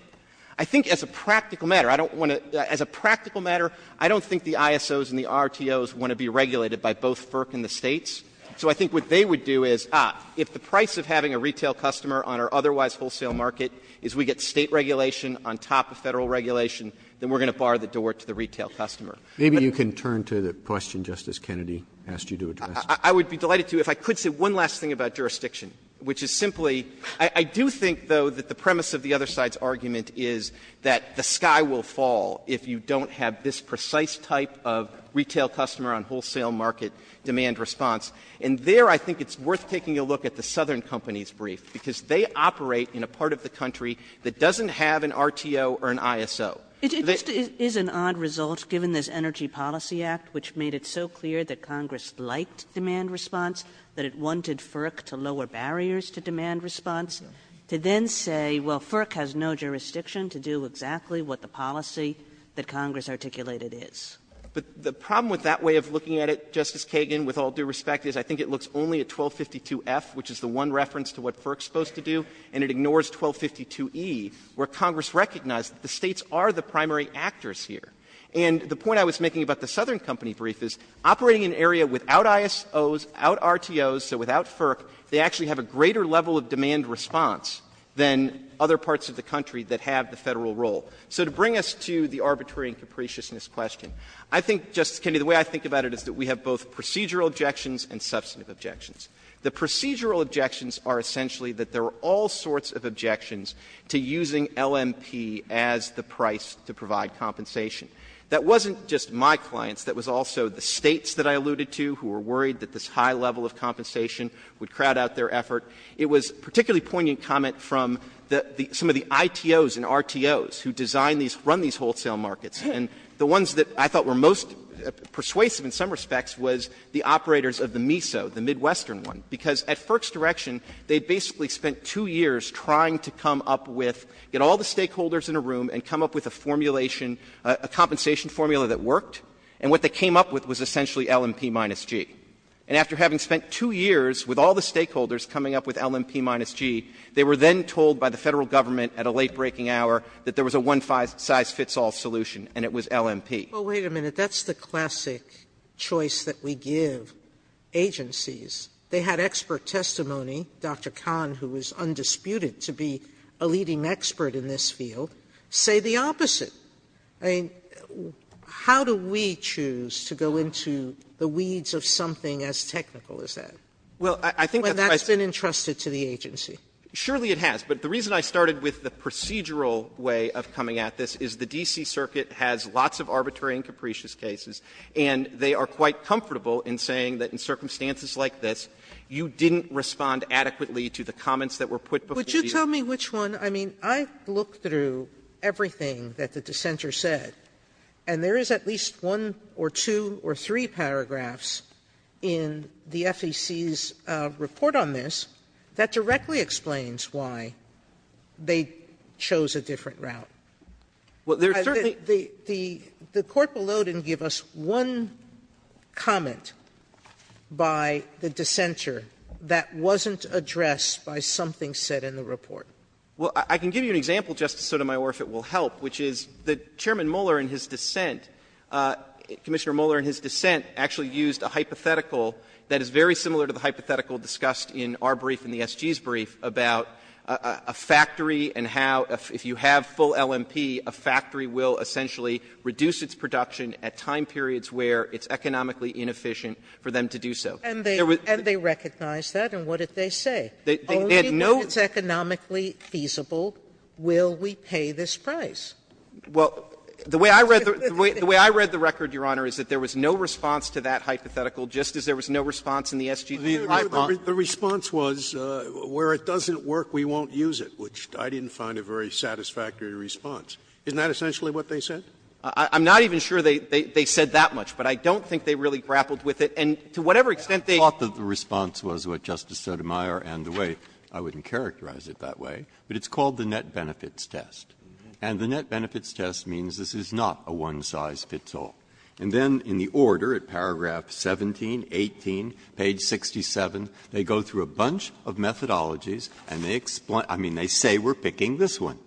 I think as a practical matter, I don't want to — as a practical matter, I don't think the ISOs and the RTOs want to be regulated by both FERC and the States. So I think what they would do is, ah, if the price of having a retail customer on an otherwise wholesale market is we get State regulation on top of Federal regulation, then we're going to bar the door to the retail customer. Roberts. Maybe you can turn to the question Justice Kennedy asked you to address. I would be delighted to, if I could say one last thing about jurisdiction, which is simply — I do think, though, that the premise of the other side's argument is that the sky will fall if you don't have this precise type of retail customer on wholesale market demand response. And there I think it's worth taking a look at the Southern Company's brief, because they operate in a part of the country that doesn't have an RTO or an ISO. Kagan. It just is an odd result, given this Energy Policy Act, which made it so clear that Congress liked demand response, that it wanted FERC to lower barriers to demand response, to then say, well, FERC has no jurisdiction to do exactly what the policy that Congress articulated is. But the problem with that way of looking at it, Justice Kagan, with all due respect, is I think it looks only at 1252F, which is the one reference to what FERC is supposed to do, and it ignores 1252E, where Congress recognized that the States are the primary actors here. And the point I was making about the Southern Company brief is operating in an area without ISOs, without RTOs, so without FERC, they actually have a greater level of demand response than other parts of the country that have the Federal role. So to bring us to the arbitrary and capriciousness question, I think, Justice Kennedy, the way I think about it is that we have both procedural objections and substantive objections. The procedural objections are essentially that there are all sorts of objections to using LMP as the price to provide compensation. That wasn't just my clients. That was also the States that I alluded to who were worried that this high level of compensation would crowd out their effort. It was particularly poignant comment from the ITOs and RTOs who design these, run these wholesale markets. And the ones that I thought were most persuasive in some respects was the operators of the MISO, the Midwestern one, because at FERC's direction, they basically spent 2 years trying to come up with, get all the stakeholders in a room and come up with a formulation, a compensation formula that worked, and what they came up with was essentially LMP minus G. And after having spent 2 years with all the stakeholders coming up with LMP minus G, they were then told by the Federal Government at a late breaking hour that there was a one-size-fits-all solution, and it was LMP. Sotomayor, that's the classic choice that we give agencies. They had expert testimony, Dr. Kahn, who was undisputed to be a leading expert in this field, say the opposite. I mean, how do we choose to go into the weeds of something as technical as that? Well, I think that's why I say that's been entrusted to the agency. Surely it has. But the reason I started with the procedural way of coming at this is the D.C. Circuit has lots of arbitrary and capricious cases, and they are quite comfortable in saying that in circumstances like this, you didn't respond adequately to the comments that were put before you. Sotomayor, would you tell me which one? I mean, I looked through everything that the dissenter said, and there is at least one or two or three paragraphs in the FEC's report on this that directly explains why they chose a different route. Well, there's certainly the court below didn't give us one comment by the dissenter that wasn't addressed by something said in the report. Well, I can give you an example, Justice Sotomayor, if it will help, which is that Chairman Mueller in his dissent, Commissioner Mueller in his dissent actually used a hypothetical that is very similar to the hypothetical discussed in our brief in the S.G.'s brief about a factory and how, if you have full LMP, a factory will essentially reduce its production at time periods where it's economically inefficient for them to do so. And they recognized that, and what did they say? They had no question. Only when it's economically feasible will we pay this price. Well, the way I read the record, Your Honor, is that there was no response to that hypothetical, just as there was no response in the S.G. brief. The response was, where it doesn't work, we won't use it, which I didn't find a very satisfactory response. Isn't that essentially what they said? I'm not even sure they said that much, but I don't think they really grappled with it. And to whatever extent they thought that the response was what Justice Sotomayor and the way, I wouldn't characterize it that way, but it's called the net benefits test. And the net benefits test means this is not a one-size-fits-all. And then in the order, at paragraph 17, 18, page 67, they go through a bunch of methodologies and they explain, I mean, they say we're picking this one.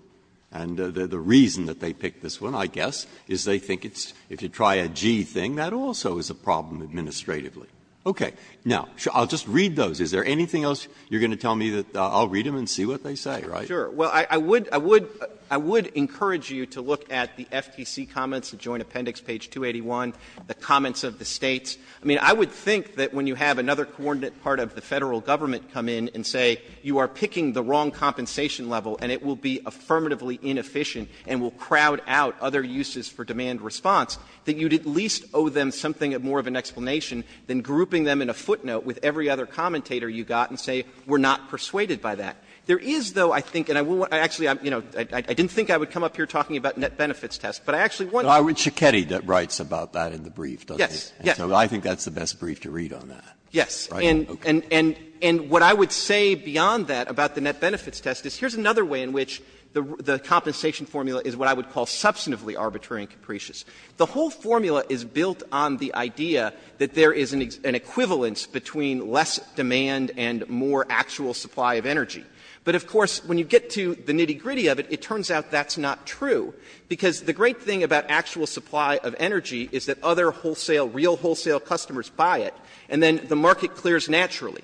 And the reason that they picked this one, I guess, is they think it's, if you try a G thing, that also is a problem administratively. Okay. Now, I'll just read those. Is there anything else you're going to tell me that I'll read them and see what they say, right? Sure. Well, I would, I would, I would encourage you to look at the FTC comments, the Joint Appendix, page 281, the comments of the States. I mean, I would think that when you have another coordinate part of the Federal Government come in and say you are picking the wrong compensation level and it will be affirmatively inefficient and will crowd out other uses for demand response, that you'd at least owe them something more of an explanation than grouping them in a footnote with every other commentator you got and say, we're not persuaded by that. There is, though, I think, and I actually, you know, I didn't think I would come up here talking about net benefits test, but I actually want to. But I read Schiketti that writes about that in the brief, doesn't he? Yes, yes. And so I think that's the best brief to read on that. Yes. And, and, and what I would say beyond that about the net benefits test is here's another way in which the compensation formula is what I would call substantively arbitrary and capricious. The whole formula is built on the idea that there is an equivalence between less demand and more actual supply of energy. But, of course, when you get to the nitty-gritty of it, it turns out that's not true, because the great thing about actual supply of energy is that other wholesale, real wholesale customers buy it, and then the market clears naturally.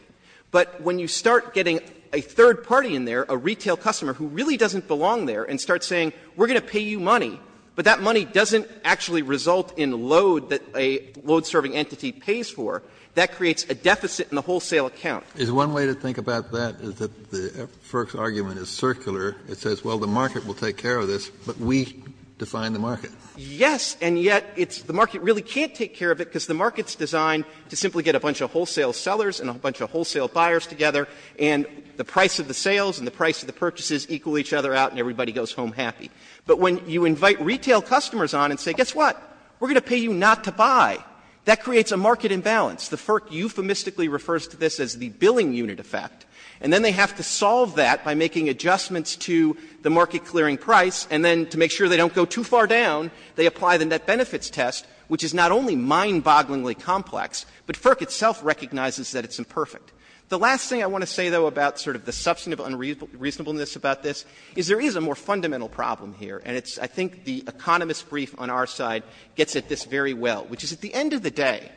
But when you start getting a third party in there, a retail customer who really doesn't belong there, and start saying we're going to pay you money, but that money doesn't actually result in load that a load-serving entity pays for, that creates a deficit in the wholesale account. Kennedy, is one way to think about that is that the FERC's argument is circular. It says, well, the market will take care of this, but we define the market. Yes, and yet it's the market really can't take care of it, because the market is designed to simply get a bunch of wholesale sellers and a bunch of wholesale buyers together, and the price of the sales and the price of the purchases equal each other out, and everybody goes home happy. But when you invite retail customers on and say, guess what, we're going to pay you not to buy, that creates a market imbalance. The FERC euphemistically refers to this as the billing unit effect, and then they have to solve that by making adjustments to the market-clearing price, and then to make sure they don't go too far down, they apply the net benefits test, which is not only mind-bogglingly complex, but FERC itself recognizes that it's imperfect. The last thing I want to say, though, about sort of the substantive unreasonableness about this is there is a more fundamental problem here, and it's, I think, the economist's brief on our side gets at this very well, which is at the end of the day,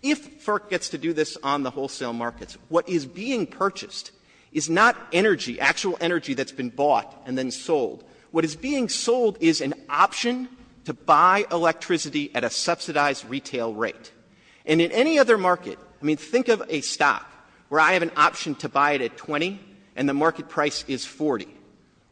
if FERC gets to do this on the wholesale markets, what is being purchased is not energy, actual energy that's been bought and then sold. What is being sold is an option to buy electricity at a subsidized retail rate. And in any other market, I mean, think of a stock where I have an option to buy it at 20, and the market price is 40.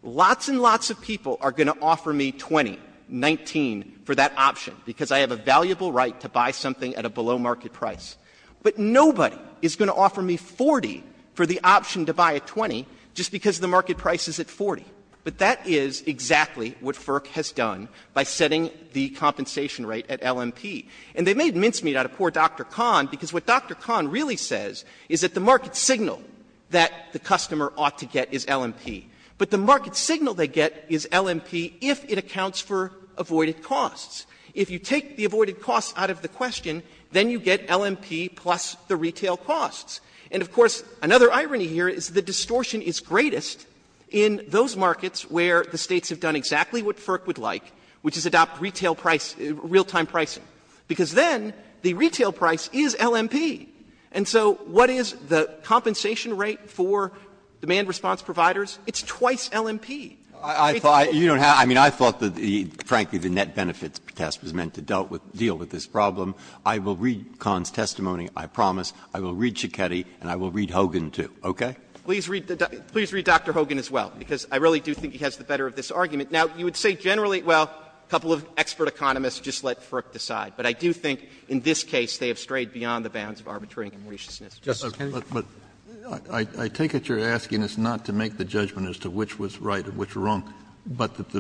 Lots and lots of people are going to offer me 20, 19 for that option, because I have a valuable right to buy something at a below-market price. But nobody is going to offer me 40 for the option to buy at 20 just because the market price is at 40. But that is exactly what FERC has done by setting the compensation rate at LMP. And they made mincemeat out of poor Dr. Kahn, because what Dr. Kahn really says is that the market signal that the customer ought to get is LMP. But the market signal they get is LMP if it accounts for avoided costs. If you take the avoided costs out of the question, then you get LMP plus the retail costs. And, of course, another irony here is the distortion is greatest in those markets where the States have done exactly what FERC would like, which is adopt retail price, real-time pricing, because then the retail price is LMP. And so what is the compensation rate for demand response providers? It's twice LMP. Breyer, I mean, I thought that the, frankly, the net benefits test was meant to deal with this problem. I will read Kahn's testimony, I promise. I will read Scheketty, and I will read Hogan, too, okay? Clemente, please read Dr. Hogan as well, because I really do think he has the better of this argument. Now, you would say generally, well, a couple of expert economists just let FERC decide. But I do think in this case they have strayed beyond the bounds of arbitrary and maliciousness. Kennedy? Kennedy, I take it you're asking us not to make the judgment as to which was right and which wrong, but that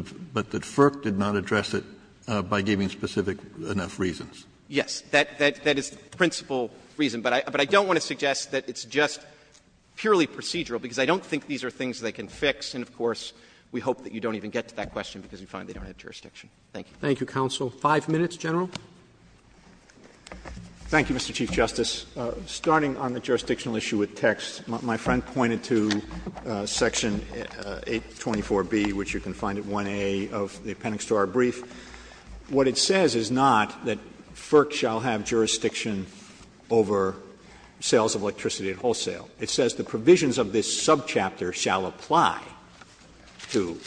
FERC did not address it by giving specific enough reasons. Yes. That is the principle reason. But I don't want to suggest that it's just purely procedural, because I don't think these are things they can fix. And, of course, we hope that you don't even get to that question because we find they don't have jurisdiction. Thank you. Roberts. Thank you, counsel. Five minutes, General. Thank you, Mr. Chief Justice. Starting on the jurisdictional issue with text, my friend pointed to section 824B, which you can find at 1A of the appendix to our brief. What it says is not that FERC shall have jurisdiction over sales of electricity at wholesale. It says the provisions of this subchapter shall apply to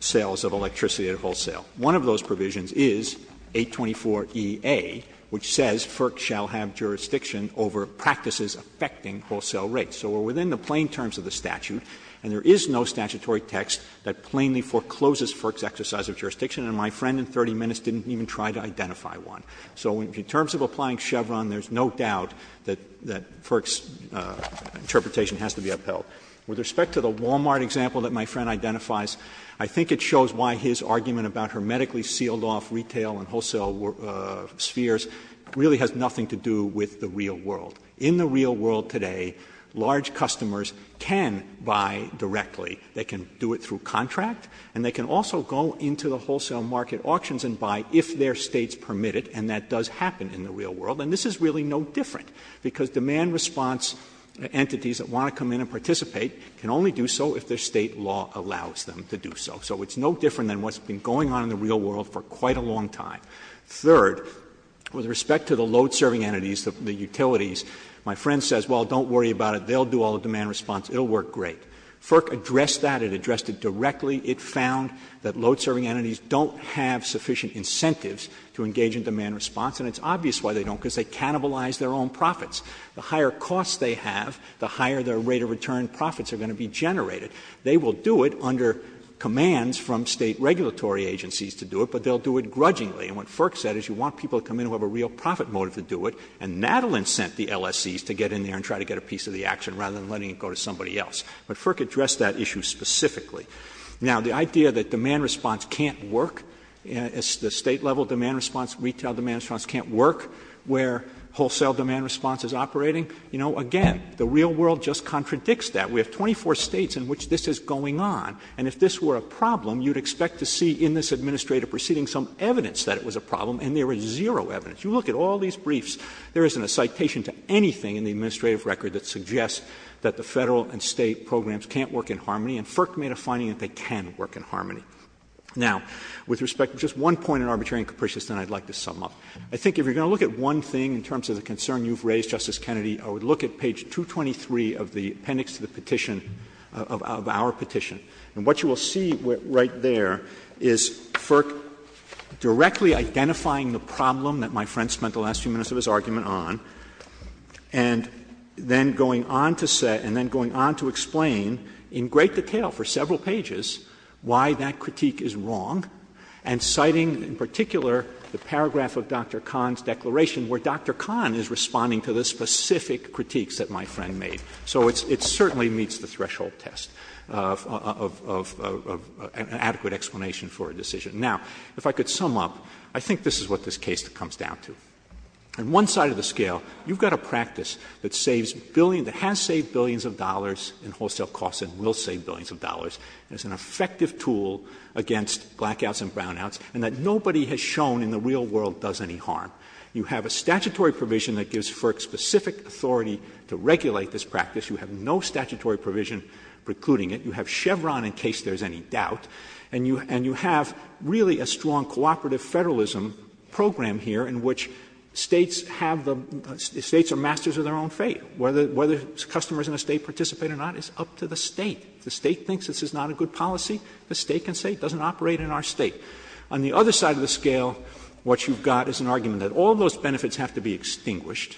sales of electricity at wholesale. One of those provisions is 824EA, which says FERC shall have jurisdiction over practices affecting wholesale rates. So we're within the plain terms of the statute, and there is no statutory text that plainly forecloses FERC's exercise of jurisdiction, and my friend in 30 minutes didn't even try to identify one. So in terms of applying Chevron, there's no doubt that FERC's interpretation has to be upheld. With respect to the Walmart example that my friend identifies, I think it shows why his argument about her medically sealed-off retail and wholesale spheres really has nothing to do with the real world. In the real world today, large customers can buy directly. They can do it through contract, and they can also go into the wholesale market auctions and buy if their State's permitted, and that does happen in the real world. And this is really no different, because demand response entities that want to come in and participate can only do so if their State law allows them to do so. So it's no different than what's been going on in the real world for quite a long time. Third, with respect to the load-serving entities, the utilities, my friend says, well, don't worry about it, they'll do all the demand response, it'll work great. FERC addressed that. It addressed it directly. It found that load-serving entities don't have sufficient incentives to engage in demand response, and it's obvious why they don't, because they cannibalize their own profits. The higher costs they have, the higher their rate of return profits are going to be generated. They will do it under commands from State regulatory agencies to do it, but they'll do it grudgingly. And what FERC said is you want people to come in who have a real profit motive to do it, and Natalin sent the LSCs to get in there and try to get a piece of the action rather than letting it go to somebody else. But FERC addressed that issue specifically. Now, the idea that demand response can't work, the State-level demand response, retail demand response can't work where wholesale demand response is operating, you know, again, the real world just contradicts that. We have 24 States in which this is going on, and if this were a problem, you'd expect to see in this administrative proceeding some evidence that it was a problem, and there is zero evidence. You look at all these briefs, there isn't a citation to anything in the administrative record that suggests that the Federal and State programs can't work in harmony, and FERC made a finding that they can work in harmony. Now, with respect to just one point in arbitrary and capricious, then I'd like to sum up. I think if you're going to look at one thing in terms of the concern you've raised, Justice Kennedy, I would look at page 223 of the appendix to the petition, of our petition. And what you will see right there is FERC directly identifying the problem that my friend spent the last few minutes of his argument on, and then going on to say, and then going on to explain in great detail for several pages why that critique is wrong, and citing in particular the paragraph of Dr. Kahn's declaration where Dr. Kahn is responding to the specific critiques that my friend made. So it certainly meets the threshold test of an adequate explanation for a decision. Now, if I could sum up, I think this is what this case comes down to. On one side of the scale, you've got a practice that saves billions, that has saved billions of dollars in wholesale costs and will save billions of dollars, and is an effective tool against blackouts and brownouts, and that nobody has shown in the real world does any harm. You have a statutory provision that gives FERC specific authority to regulate this practice. You have no statutory provision precluding it. You have Chevron in case there is any doubt. And you have really a strong cooperative federalism program here in which States have the — States are masters of their own fate. Whether customers in a State participate or not is up to the State. If the State thinks this is not a good policy, the State can say it doesn't operate in our State. On the other side of the scale, what you've got is an argument that all those benefits have to be extinguished,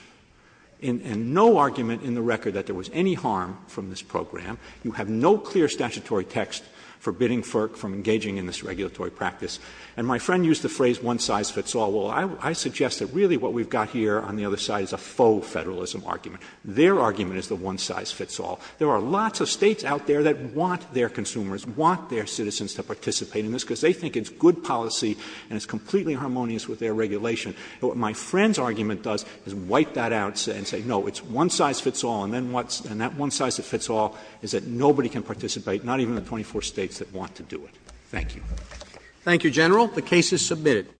and no argument in the record that there was any harm from this program. You have no clear statutory text forbidding FERC from engaging in this regulatory practice. And my friend used the phrase one size fits all. Well, I suggest that really what we've got here on the other side is a faux-federalism argument. Their argument is the one size fits all. There are lots of States out there that want their consumers, want their citizens to participate in this, because they think it's good policy and it's completely harmonious with their regulation. What my friend's argument does is wipe that out and say, no, it's one size fits all, and then what's — and that one size that fits all is that nobody can participate, not even the 24 States that want to do it. Thank you. Roberts. Thank you, General. The case is submitted.